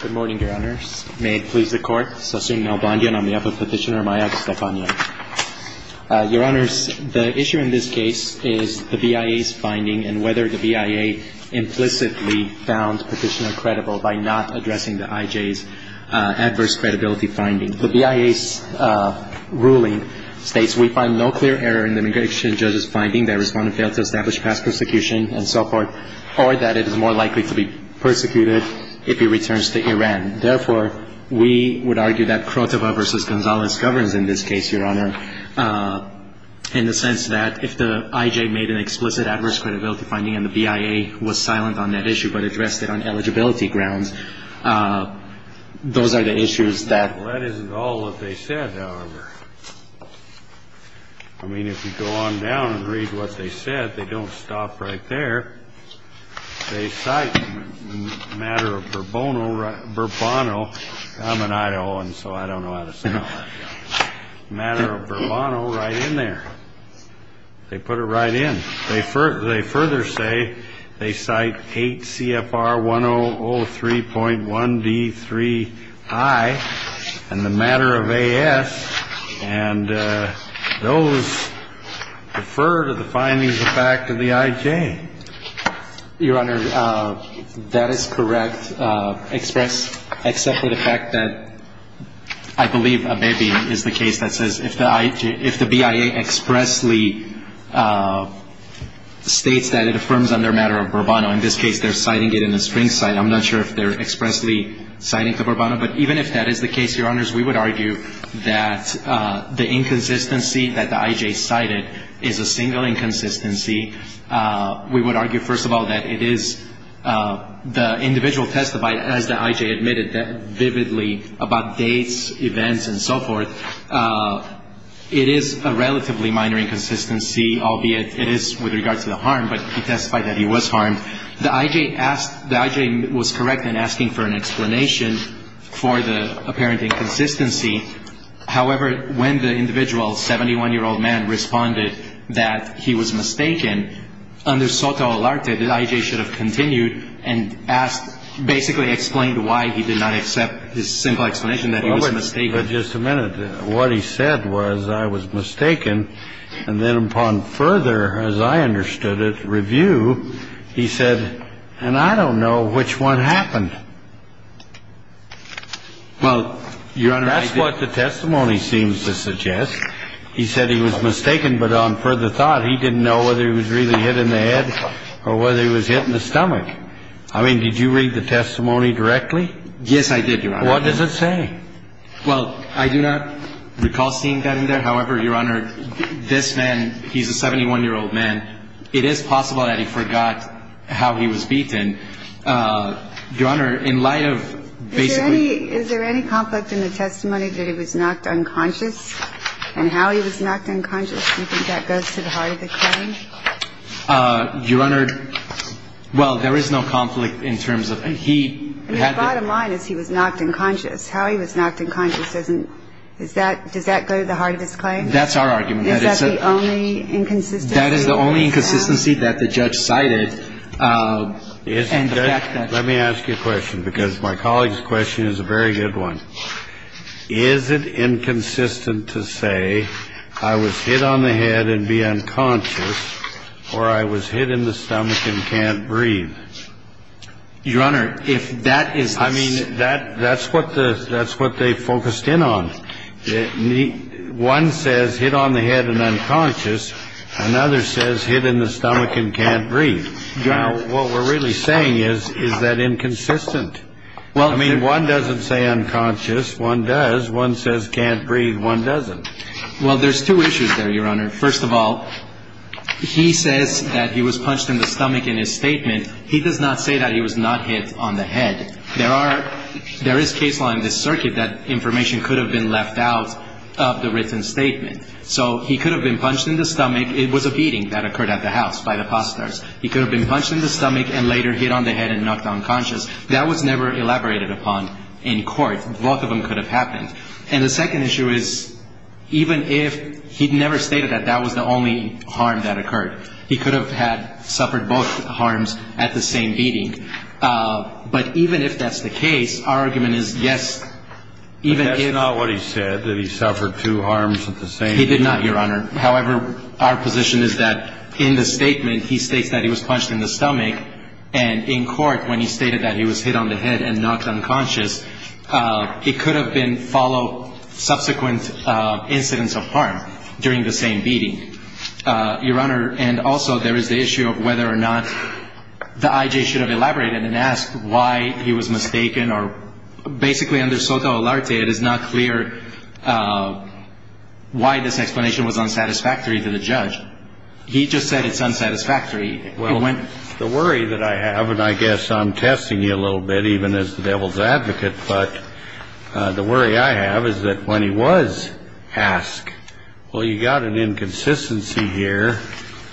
Good morning, Your Honors. May it please the Court. Sosin Nalbandian, on behalf of Petitioner Maya Gustafanian. Your Honors, the issue in this case is the BIA's finding and whether the BIA implicitly found Petitioner credible by not addressing the IJ's adverse credibility finding. The BIA's ruling states we find no clear error in the immigration judge's finding that a respondent failed to establish past persecution and so forth, or that it is more likely to be persecuted if he returns to Iran. Therefore, we would argue that Krotova v. Gonzalez governs in this case, Your Honor, in the sense that if the IJ made an explicit adverse credibility finding and the BIA was silent on that issue but addressed it on eligibility grounds, those are the issues that – Well, that isn't all that they said, however. I mean, if you go on down and read what they said, they don't stop right there. They cite the matter of Bourbono – Bourbono – I'm an Iowan, so I don't know how to spell that – matter of Bourbono right in there. They put it right in. They further say they cite 8 CFR 1003.1D3I and the matter of A.S., and those refer to the findings of fact of the IJ. Your Honor, that is correct, expressed except for the fact that I believe Abebe is the case that says if the IJ – if the BIA expressly states that it affirms on their matter of Bourbono – in this case, they're citing it in a string cite. I'm not sure if they're expressly citing to Bourbono, but even if that is the case, Your Honors, we would argue that the inconsistency that the IJ cited is a single inconsistency. We would argue, first of all, that it is – the individual testified, as the IJ admitted vividly, about dates, events, and so forth. It is a relatively minor inconsistency, albeit it is with regard to the harm, but he testified that he was harmed. The IJ asked – the IJ was correct in asking for an However, when the individual, 71-year-old man, responded that he was mistaken, under Soto Alarte, the IJ should have continued and asked – basically explained why he did not accept his simple explanation that he was mistaken. But just a minute. What he said was, I was mistaken, and then upon further, as I understood it, review, he said, and I don't know which one happened. Well, Your Honor, that's what the testimony seems to suggest. He said he was mistaken, but on further thought, he didn't know whether he was really hit in the head or whether he was hit in the stomach. I mean, did you read the testimony directly? Yes, I did, Your Honor. What does it say? Well, I do not recall seeing that in there. However, Your Honor, this man, he's a 71-year-old man. It is possible that he forgot how he was beaten. Your Honor, in light of – Is there any – is there any conflict in the testimony that he was knocked unconscious and how he was knocked unconscious? Do you think that goes to the heart of the claim? Your Honor, well, there is no conflict in terms of – he had to – I mean, the bottom line is he was knocked unconscious. How he was knocked unconscious doesn't – is that – does that go to the heart of his claim? That's our argument. Is that the only inconsistency? That is the only inconsistency that the judge cited and the fact that – Let me ask you a question, because my colleague's question is a very good one. Is it inconsistent to say I was hit on the head and be unconscious or I was hit in the stomach and can't breathe? Your Honor, if that is the – I mean, that's what the – that's what they focused in on. One says hit on the head and unconscious. Another says hit in the stomach and can't breathe. Now, what we're really saying is, is that inconsistent? Well – I mean, one doesn't say unconscious. One does. One says can't breathe. One doesn't. Well, there's two issues there, Your Honor. First of all, he says that he was punched in the stomach in his statement. He does not say that he was not hit on the head. There are – there is case law in this circuit that information could have been left out of the written statement. So he could have been punched in the stomach. It was a beating that occurred at the house by the posters. He could have been punched in the stomach and later hit on the head and knocked unconscious. That was never elaborated upon in court. Both of them could have happened. And the second issue is, even if – he never stated that that was the only harm that occurred. He could have had – suffered both harms at the same beating. But even if that's the case, our argument is, yes, even if – He did not, Your Honor. However, our position is that in the statement, he states that he was punched in the stomach. And in court, when he stated that he was hit on the head and knocked unconscious, it could have been – followed subsequent incidents of harm during the same beating, Your Honor. And also, there is the issue of whether or not the I.J. should have elaborated and asked why he was mistaken or – basically, under SOTA Olarte, it is not clear why this explanation was unsatisfactory to the judge. He just said it's unsatisfactory. Well, the worry that I have – and I guess I'm testing you a little bit, even as the devil's advocate – but the worry I have is that when he was asked, well, you got an inconsistency here,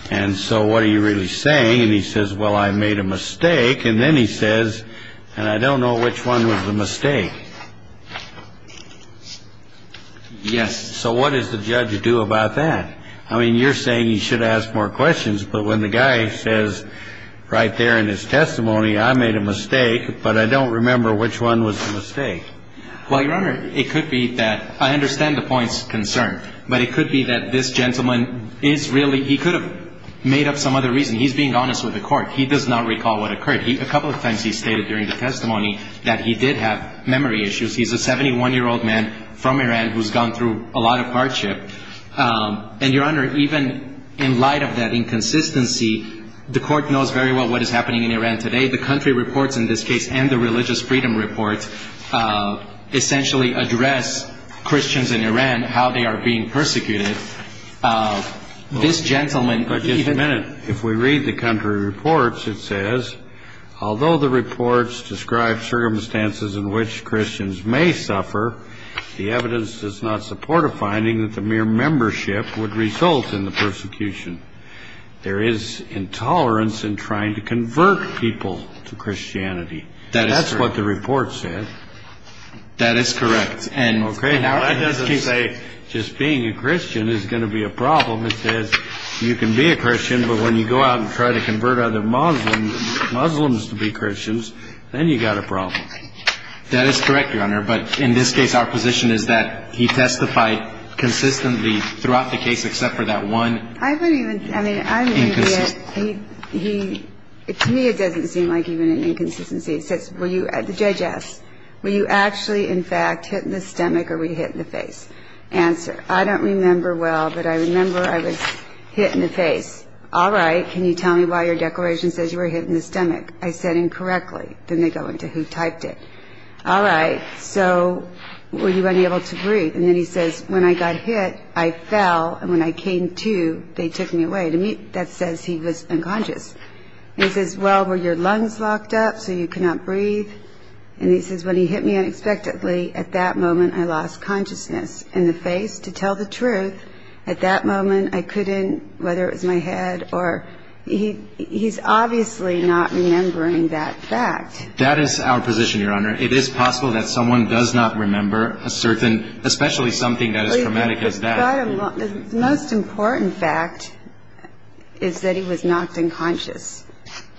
and so what are you really saying? And he says, well, I made a mistake. And then he says, and I don't know which one was the mistake. Yes. So what does the judge do about that? I mean, you're saying he should have asked more questions. But when the guy says right there in his testimony, I made a mistake, but I don't remember which one was the mistake. Well, Your Honor, it could be that – I understand the point's concern. But it could be that this gentleman is really – he could have made up some other reason. He's being honest with the court. He does not recall what occurred. A couple of times he stated during the testimony that he did have memory issues. He's a 71-year-old man from Iran who's gone through a lot of hardship. And, Your Honor, even in light of that inconsistency, the court knows very well what is happening in Iran today. The country reports in this case and the religious freedom report essentially address Christians in Iran, how they are being persecuted. This gentleman – But just a minute. If we read the country reports, it says, although the reports describe circumstances in which Christians may suffer, the evidence does not support a finding that the mere membership would result in the persecution. That's what the report said. That is correct. Okay. Now, that doesn't say just being a Christian is going to be a problem. It says you can be a Christian, but when you go out and try to convert other Muslims to be Christians, then you've got a problem. That is correct, Your Honor. But in this case, our position is that he testified consistently throughout the case except for that one – I mean, to me, it doesn't seem like even an inconsistency. The judge asks, were you actually, in fact, hit in the stomach or were you hit in the face? Answer, I don't remember well, but I remember I was hit in the face. All right, can you tell me why your declaration says you were hit in the stomach? I said incorrectly. Then they go into who typed it. All right, so were you unable to breathe? And then he says, when I got hit, I fell, and when I came to, they took me away. To me, that says he was unconscious. He says, well, were your lungs locked up so you could not breathe? And he says, when he hit me unexpectedly, at that moment, I lost consciousness. In the face, to tell the truth, at that moment, I couldn't – whether it was my head or – he's obviously not remembering that fact. That is our position, Your Honor. It is possible that someone does not remember a certain – especially something that is traumatic as that. The most important fact is that he was knocked unconscious,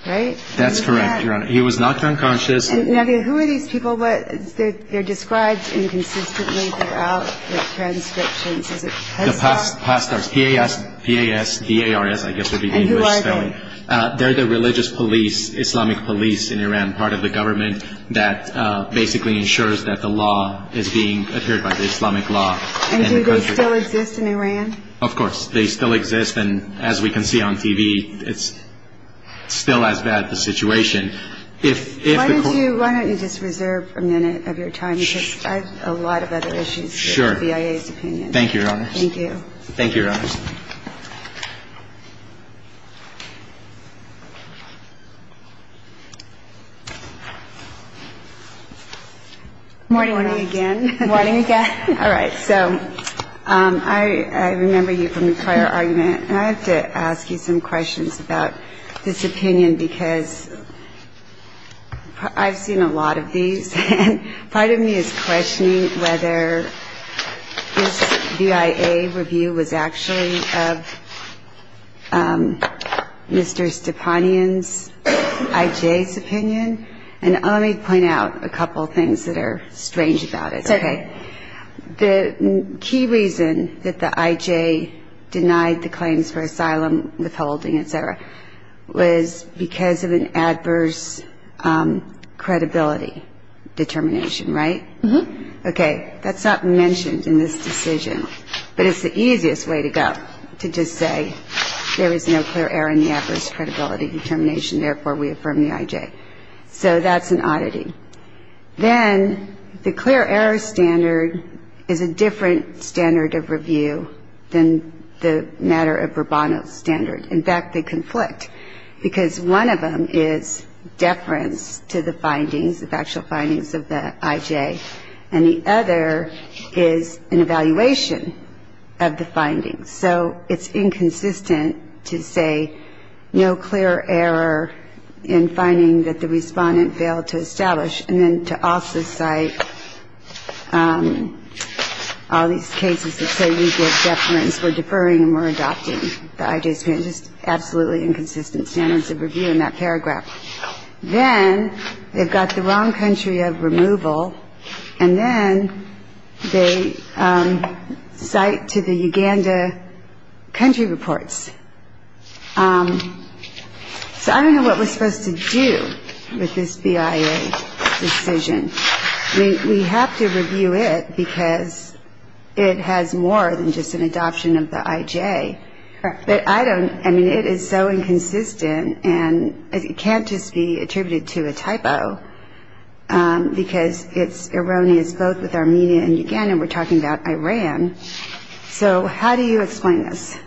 right? That's correct, Your Honor. He was knocked unconscious. Now, who are these people? They're described inconsistently throughout the transcriptions. Is it pastors? Pastors, P-A-S-T-A-R-S, I guess would be the English spelling. And who are they? They're the religious police, Islamic police in Iran, part of the government that basically ensures that the law is being adhered by the Islamic law. And do they still exist in Iran? Of course, they still exist. And as we can see on TV, it's still as bad the situation. Why don't you just reserve a minute of your time? Because I have a lot of other issues with the BIA's opinion. Thank you, Your Honor. Thank you. Thank you, Your Honor. Morning, again. Morning, again. All right. So I remember you from the prior argument. And I have to ask you some questions about this opinion, because I've seen a lot of these. And part of me is questioning whether this BIA review was actually of Mr. Stepanian's, I.J.'s opinion. And let me point out a couple of things that are strange about it. Okay. The key reason that the I.J. denied the claims for asylum, withholding, etc., was because of an adverse credibility determination, right? Okay. That's not mentioned in this decision. But it's the easiest way to go, to just say, there is no clear error in the adverse credibility determination, therefore we affirm the I.J. So that's an oddity. Then, the clear error standard is a different standard of review than the matter of Robano's standard. In fact, they conflict. Because one of them is deference to the findings, the factual findings of the I.J. And the other is an evaluation of the findings. So it's inconsistent to say no clear error in finding that the respondent failed to establish and then to also cite all these cases that say we give deference, we're deferring and we're adopting the I.J.'s opinion. Just absolutely inconsistent standards of review in that paragraph. Then, they've got the wrong country of removal and then they cite to the Uganda country reports. So I don't know what we're supposed to do with this BIA decision. I mean, we have to review it because it has more than just an adoption of the I.J. But I don't, I mean, it is so inconsistent and it can't just be attributed to a typo because it's erroneous both with Armenia and Uganda. We're talking about Iran. So how do you explain this?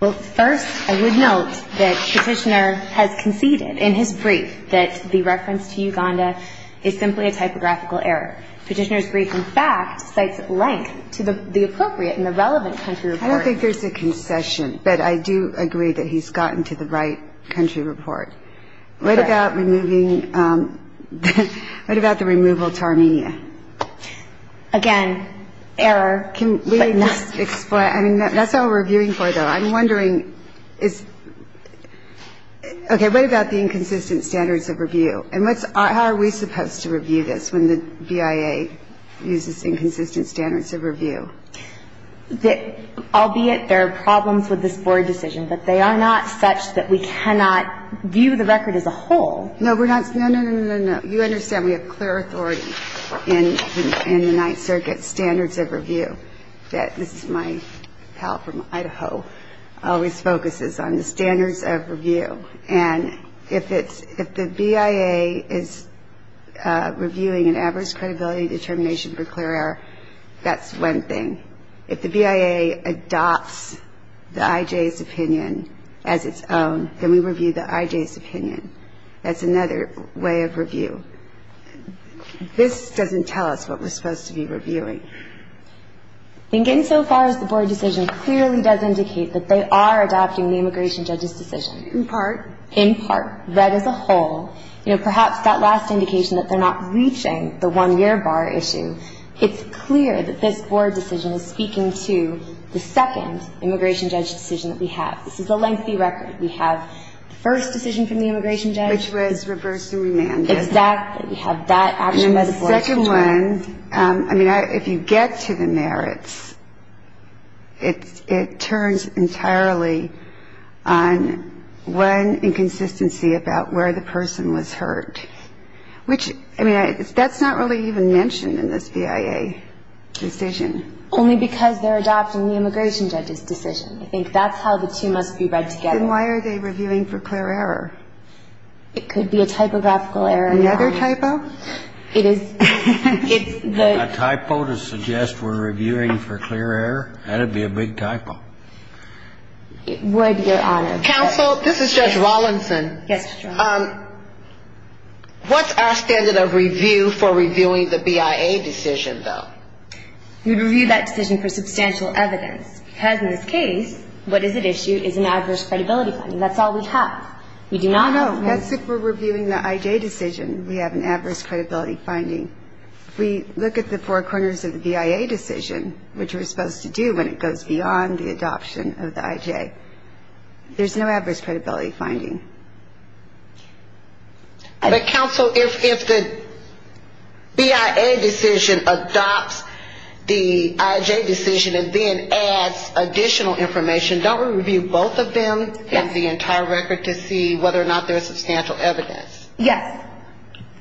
Well, first, I would note that Petitioner has conceded in his brief that the reference to Uganda is simply a typographical error. Petitioner's brief, in fact, cites a link to the appropriate and the relevant country. I don't think there's a concession, but I do agree that he's gotten to the right country report. What about removing, what about the removal to Armenia? Again, error. Can we just explain, I mean, that's all we're reviewing for though. I'm wondering, is, okay, what about the inconsistent standards of review? And what's, how are we supposed to with this Board decision? But they are not such that we cannot view the record as a whole. No, we're not. No, no, no, no, no. You understand we have clear authority in the 9th Circuit standards of review. That, this is my pal from Idaho, always focuses on the standards of review. And if it's, if the BIA is reviewing an adverse credibility determination for clear error, that's one thing. If the BIA adopts the IJ's opinion as its own, then we review the IJ's opinion. That's another way of review. This doesn't tell us what we're supposed to be reviewing. I think insofar as the Board decision clearly does indicate that they are adopting the immigration judge's decision. In part. In part. Read as a whole. You know, perhaps that last issue. It's clear that this Board decision is speaking to the second immigration judge decision that we have. This is a lengthy record. We have the first decision from the immigration judge. Which was reversed and remanded. Exactly. We have that action by the Board. And the second one, I mean, if you get to the merits, it turns entirely on one inconsistency about where the BIA decision is. Only because they're adopting the immigration judge's decision. I think that's how the two must be read together. Then why are they reviewing for clear error? It could be a typographical error. Another typo? It is. A typo to suggest we're reviewing for clear error? That would be a big typo. It would, Your Honor. Counsel, this is Judge Rawlinson. Yes, Judge Rawlinson. What's our standard of review for reviewing the BIA decision, though? We review that decision for substantial evidence. Because in this case, what is at issue is an adverse credibility finding. That's all we have. No, no. That's if we're reviewing the IJ decision, we have an adverse credibility finding. If we look at the four corners of the BIA decision, which we're supposed to do when it goes beyond the adoption of the IJ, there's no adverse credibility finding. But, Counsel, if the BIA decision adopts the IJ decision and then adds additional information, don't we review both of them and the entire record to see whether or not there's substantial evidence? Yes.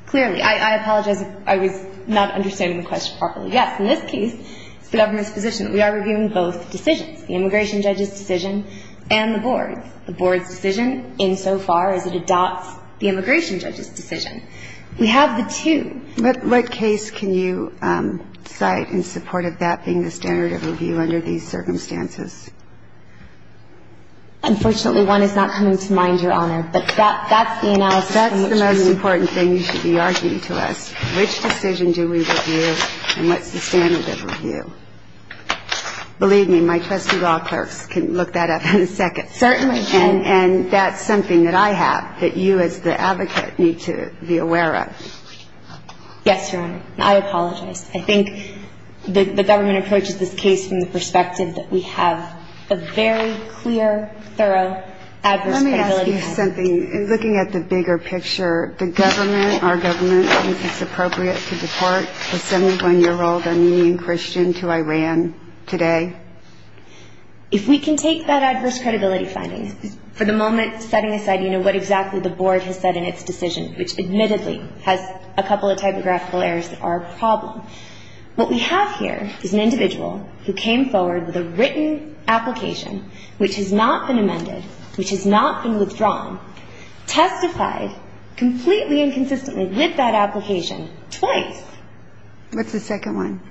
Clearly. I apologize if I was not understanding the question properly. Yes, in this case, it's the government's position that we are reviewing both decisions, the immigration judge's decision insofar as it adopts the immigration judge's decision. We have the two. But what case can you cite in support of that being the standard of review under these circumstances? Unfortunately, one is not coming to mind, Your Honor. But that's the analysis. That's the most important thing you should be arguing to us. Which decision do we review and what's the standard of review? Believe me, my trusty law clerks can look that up in a second. Certainly. And that's something that I have that you as the advocate need to be aware of. Yes, Your Honor. I apologize. I think the government approaches this case from the perspective that we have a very clear, thorough adverse credibility finding. Let me ask you something. Looking at the bigger picture, the government, our government, thinks it's appropriate to deport a 71-year-old Armenian Christian to Iran today? If we can take that adverse credibility finding for the moment, setting aside, you know, what exactly the board has said in its decision, which admittedly has a couple of typographical errors that are a problem, what we have here is an individual who came forward with a written application, which has not been amended, which has not been withdrawn, testified completely and consistently with that application twice. What's the second one?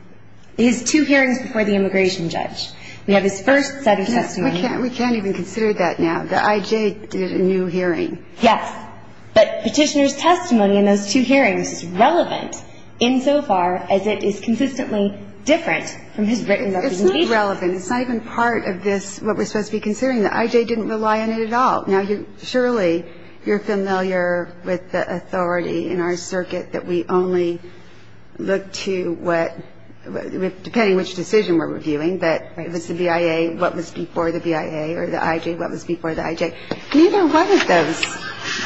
His two hearings before the We can't even consider that now. The I.J. did a new hearing. Yes. But Petitioner's testimony in those two hearings is relevant insofar as it is consistently different from his written representation. It's not relevant. It's not even part of this, what we're supposed to be considering. The I.J. didn't rely on it at all. Now, surely you're familiar with the authority in our circuit that we only look to what, depending which decision we're reviewing, but it was the BIA, what was before the BIA, or the I.J., what was before the I.J. Neither one of those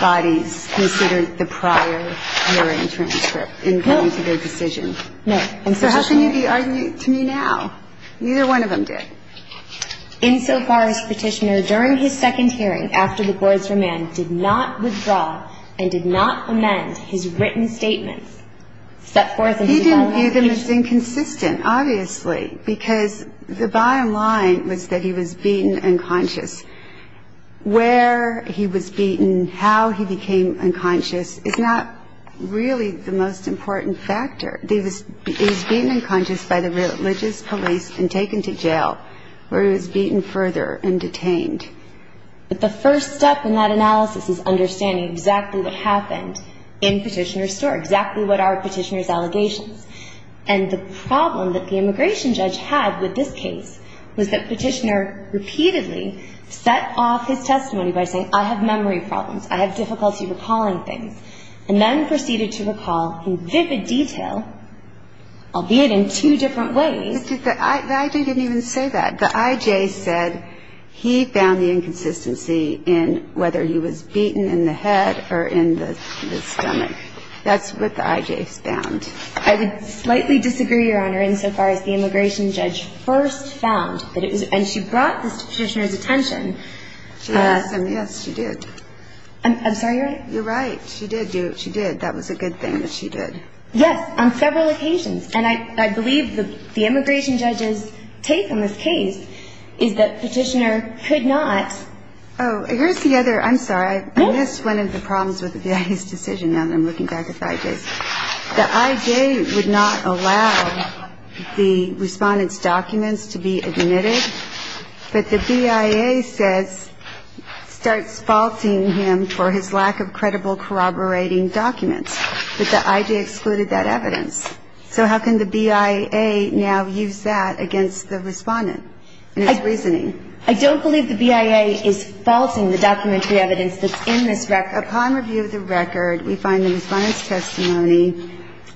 bodies considered the prior hearing transcript in coming to their decision. No. And so how can you be arguing to me now? Neither one of them did. Insofar as Petitioner, during his second hearing, after the board's remand, did not withdraw and did not amend his written statement, set forth in his own application. It's inconsistent, obviously, because the bottom line was that he was beaten unconscious. Where he was beaten, how he became unconscious, is not really the most important factor. He was beaten unconscious by the religious police and taken to jail, where he was beaten further and detained. But the first step in that analysis is understanding exactly what happened in Petitioner's allegations. And the problem that the immigration judge had with this case was that Petitioner repeatedly set off his testimony by saying, I have memory problems, I have difficulty recalling things, and then proceeded to recall in vivid detail, albeit in two different ways. But the I.J. didn't even say that. The I.J. said he found the inconsistency in whether he was I would slightly disagree, Your Honor, insofar as the immigration judge first found that it was and she brought this to Petitioner's attention. She did. I'm sorry, you're right. You're right. She did do it. She did. That was a good thing that she did. Yes, on several occasions. And I believe the immigration judge's take on this case is that Petitioner could not. Oh, here's the other, I'm sorry, I missed one of the problems with the I.J.'s decision. Now I'm looking back at the I.J.'s. The I.J. would not allow the Respondent's documents to be admitted, but the BIA says, starts faulting him for his lack of credible corroborating documents. But the I.J. excluded that evidence. So how can the BIA now use that against the Respondent in its reasoning? I don't believe the BIA is faulting the documentary evidence that's in this record. We find the Respondent's testimony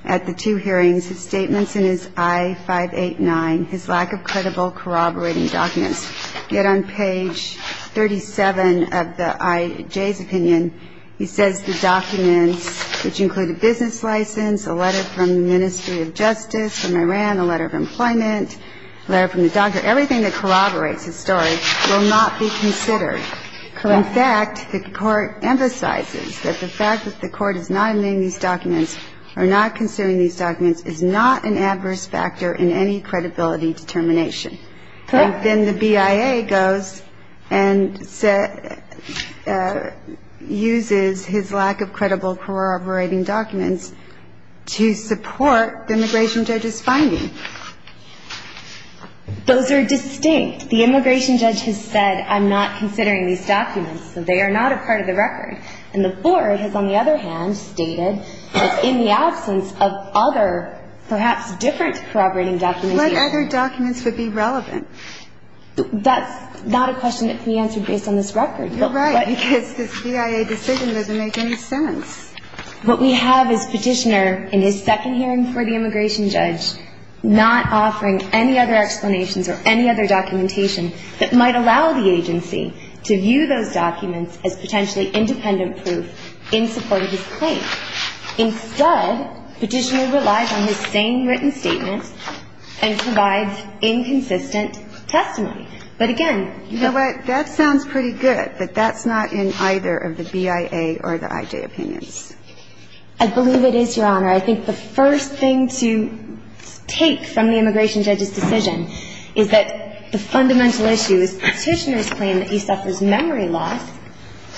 at the two hearings, his statements in his I-589, his lack of credible corroborating documents. Yet on page 37 of the I.J.'s opinion, he says the documents, which include a business license, a letter from the Ministry of Justice, from Iran, a letter of employment, a letter from the doctor, everything that corroborates his story will not be considered. In fact, the Court emphasizes that the fact that the Court is not admitting these documents or not considering these documents is not an adverse factor in any credibility determination. And then the BIA goes and uses his lack of credible corroborating documents to support the Immigration Judge's finding. Those are distinct. The Immigration Judge has said, I'm not considering these documents, so they are not a part of the record. And the Board has, on the other hand, stated that in the absence of other, perhaps different corroborating documents. What other documents would be relevant? That's not a question that can be answered based on this record. You're right, because this BIA decision doesn't make any sense. What we have is Petitioner, in his second hearing for the Immigration Judge, not offering any other explanations or any other documentation that might allow the agency to view those documents as potentially independent proof in support of his claim. Instead, Petitioner relies on his same written statement and provides inconsistent testimony. But again — You know what? That sounds pretty good, but that's not in either of the BIA or the IJ opinions. I believe it is, Your Honor. I think the first thing to take from the Immigration Judge's decision is that the fundamental issue is Petitioner's claim that he suffers memory loss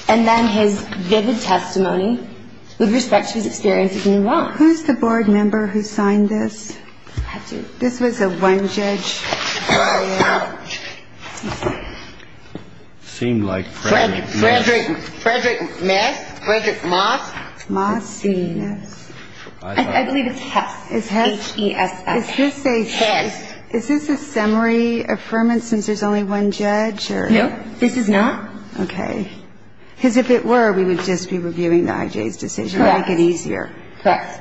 and then his vivid testimony with respect to his experience in New Orleans. Who's the Board member who signed this? This was a one-judge BIA. I believe it's Hess. H-E-S-S. Is this a summary affirmance, since there's only one judge? No, this is not. Okay. Because if it were, we would just be reviewing the IJ's decision to make it easier. Correct.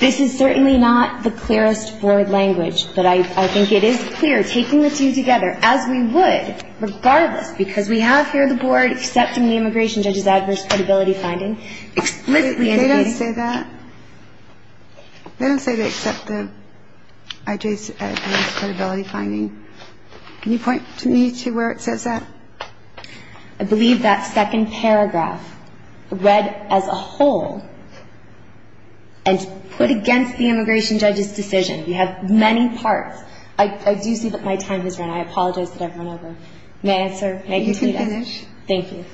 This is certainly not the clearest board language, but I believe it's a one-judge taking the two together, as we would regardless, because we have here the board accepting the Immigration Judge's adverse credibility finding. They don't say that. They don't say they accept the IJ's adverse credibility finding. Can you point me to where it says that? I believe that second paragraph, read as a whole and put against the Immigration Judge's decision. You have many parts. I do see that my time has run. I apologize that I've run over. May I answer? You can finish. Thank you.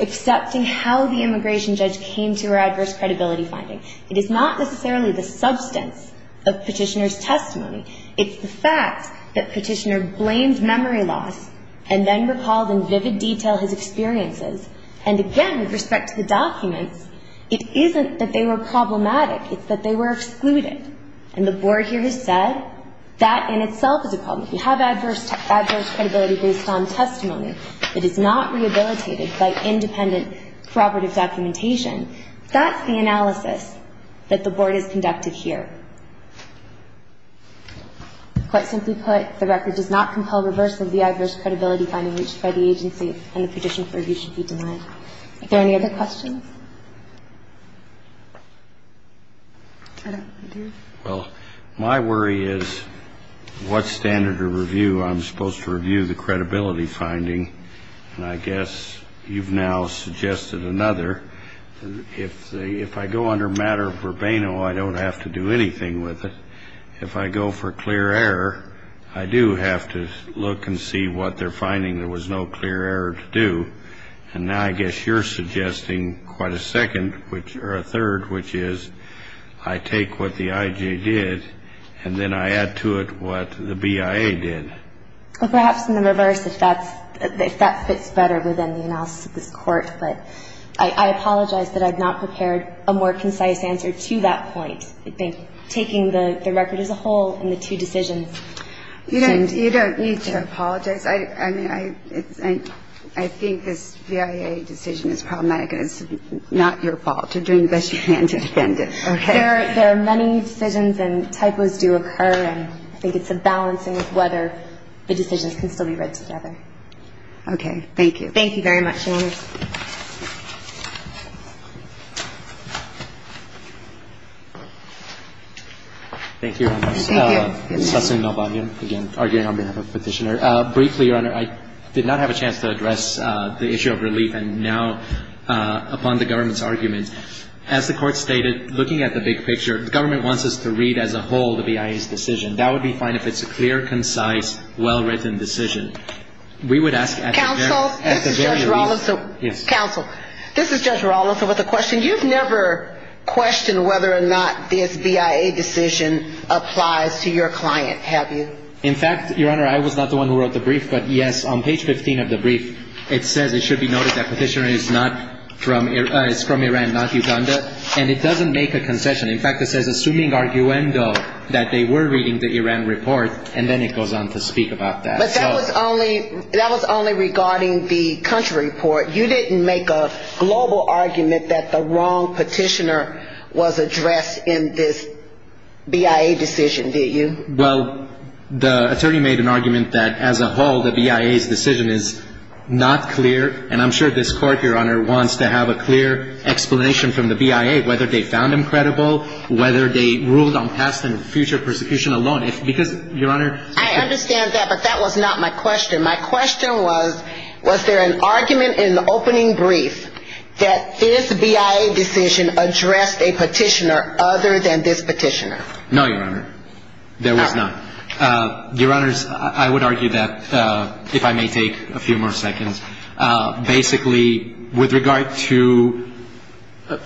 Accepting how the Immigration Judge came to her adverse credibility finding. It is not necessarily the substance of Petitioner's testimony. It's the fact that Petitioner blames memory loss and then recalled in vivid detail his experiences. And again, with respect to the documents, it isn't that they were problematic. It's that they were excluded. And the board here has said that in itself is a problem. If you have adverse credibility based on testimony that is not rehabilitated by independent corroborative documentation, that's the analysis that the board has conducted here. Quite simply put, the record does not compel reversal of the adverse credibility finding reached by the agency and the petition for review should be denied. Are there any other questions? I don't think there is. Well, my worry is what standard of review I'm supposed to review the credibility finding. And I guess you've now suggested another. If I go under matter of verbena, I don't have to do anything with it. If I go for clear error, I do have to look and see what they're finding. There was no clear error to do. And now I guess you're suggesting quite a second, which or a third, which is I take what the IJ did and then I add to it what the BIA did. Well, perhaps in the reverse, if that's if that fits better within the analysis of this court. But I apologize that I've not prepared a more concise answer to that point. I think taking the record as a whole and the two decisions. You don't need to apologize. I mean, I think this BIA decision is problematic. Not your fault. You're doing the best you can to defend it. There are many decisions and typos do occur. And I think it's a balancing of whether the decisions can still be read together. Okay. Thank you. Thank you very much, Your Honor. Thank you, Your Honor. Thank you. Sussan Melbahim, again, arguing on behalf of Petitioner. Briefly, Your Honor, I did not have a chance to address the issue of relief. Now, upon the government's argument, as the court stated, looking at the big picture, the government wants us to read as a whole the BIA's decision. That would be fine if it's a clear, concise, well-written decision. We would ask at the very least. Counsel, this is Judge Rollins with a question. You've never questioned whether or not this BIA decision applies to your client, have you? In fact, Your Honor, I was not the one who wrote the brief. But yes, on page 15 of the brief, it says it should be noted that Petitioner is from Iran, not Uganda. And it doesn't make a concession. In fact, it says, assuming arguendo, that they were reading the Iran report. And then it goes on to speak about that. But that was only regarding the country report. You didn't make a global argument that the wrong Petitioner was addressed in this BIA decision, did you? Well, the attorney made an argument that as a whole, the BIA's decision is not clear. And I'm sure this court, Your Honor, wants to have a clear explanation from the BIA, whether they found him credible, whether they ruled on past and future persecution alone. Because, Your Honor... I understand that. But that was not my question. My question was, was there an argument in the opening brief that this BIA decision addressed a Petitioner other than this Petitioner? No, Your Honor. There was not. Your Honors, I would argue that, if I may take a few more seconds, basically, with regard to...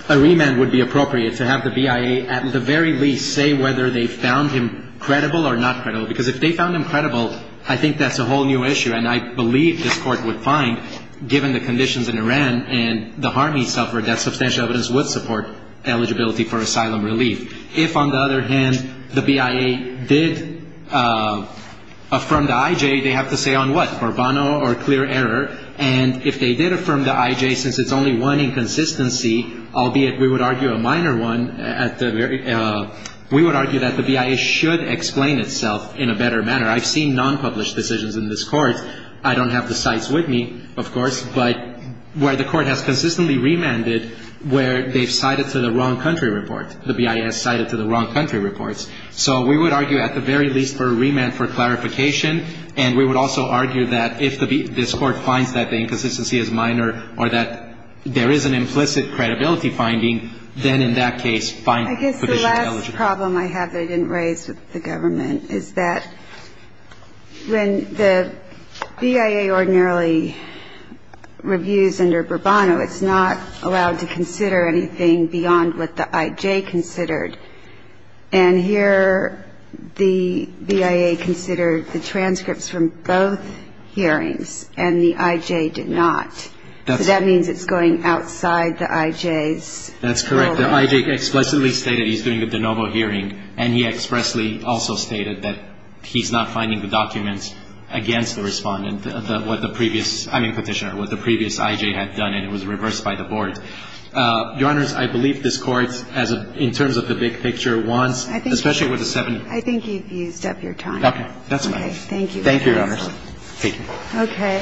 A remand would be appropriate to have the BIA, at the very least, say whether they found him credible or not credible. Because if they found him credible, I think that's a whole new issue. And I believe this court would find, given the conditions in Iran and the harm he suffered, that substantial evidence would support eligibility for asylum relief. If, on the other hand, the BIA did affirm the IJ, they have to say on what? For bono or clear error. And if they did affirm the IJ, since it's only one inconsistency, albeit we would argue a minor one at the very... We would argue that the BIA should explain itself in a better manner. I've seen non-published decisions in this court. I don't have the cites with me, of course. But where the court has consistently remanded, where they've cited to the wrong country report, the BIA has cited to the wrong country reports. So we would argue, at the very least, for a remand for clarification. And we would also argue that if this court finds that the inconsistency is minor or that there is an implicit credibility finding, then, in that case, find... I guess the last problem I have that I didn't raise with the government is that when the BIA ordinarily reviews under Burbano, it's not allowed to consider anything beyond what the IJ considered. And here, the BIA considered the transcripts from both hearings, and the IJ did not. So that means it's going outside the IJ's... That's correct. The IJ explicitly stated he's doing the de novo hearing, and he expressly also stated that he's not finding the documents against the respondent, what the previous... I mean, Petitioner, what the previous IJ had done. It was reversed by the board. Your Honors, I believe this Court, in terms of the big picture, wants... I think... Especially with the seven... I think you've used up your time. Okay. That's fine. Okay. Thank you. Thank you, Your Honors. Thank you. Okay.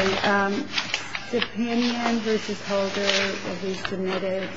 Dependent v. Holder, if he's submitted...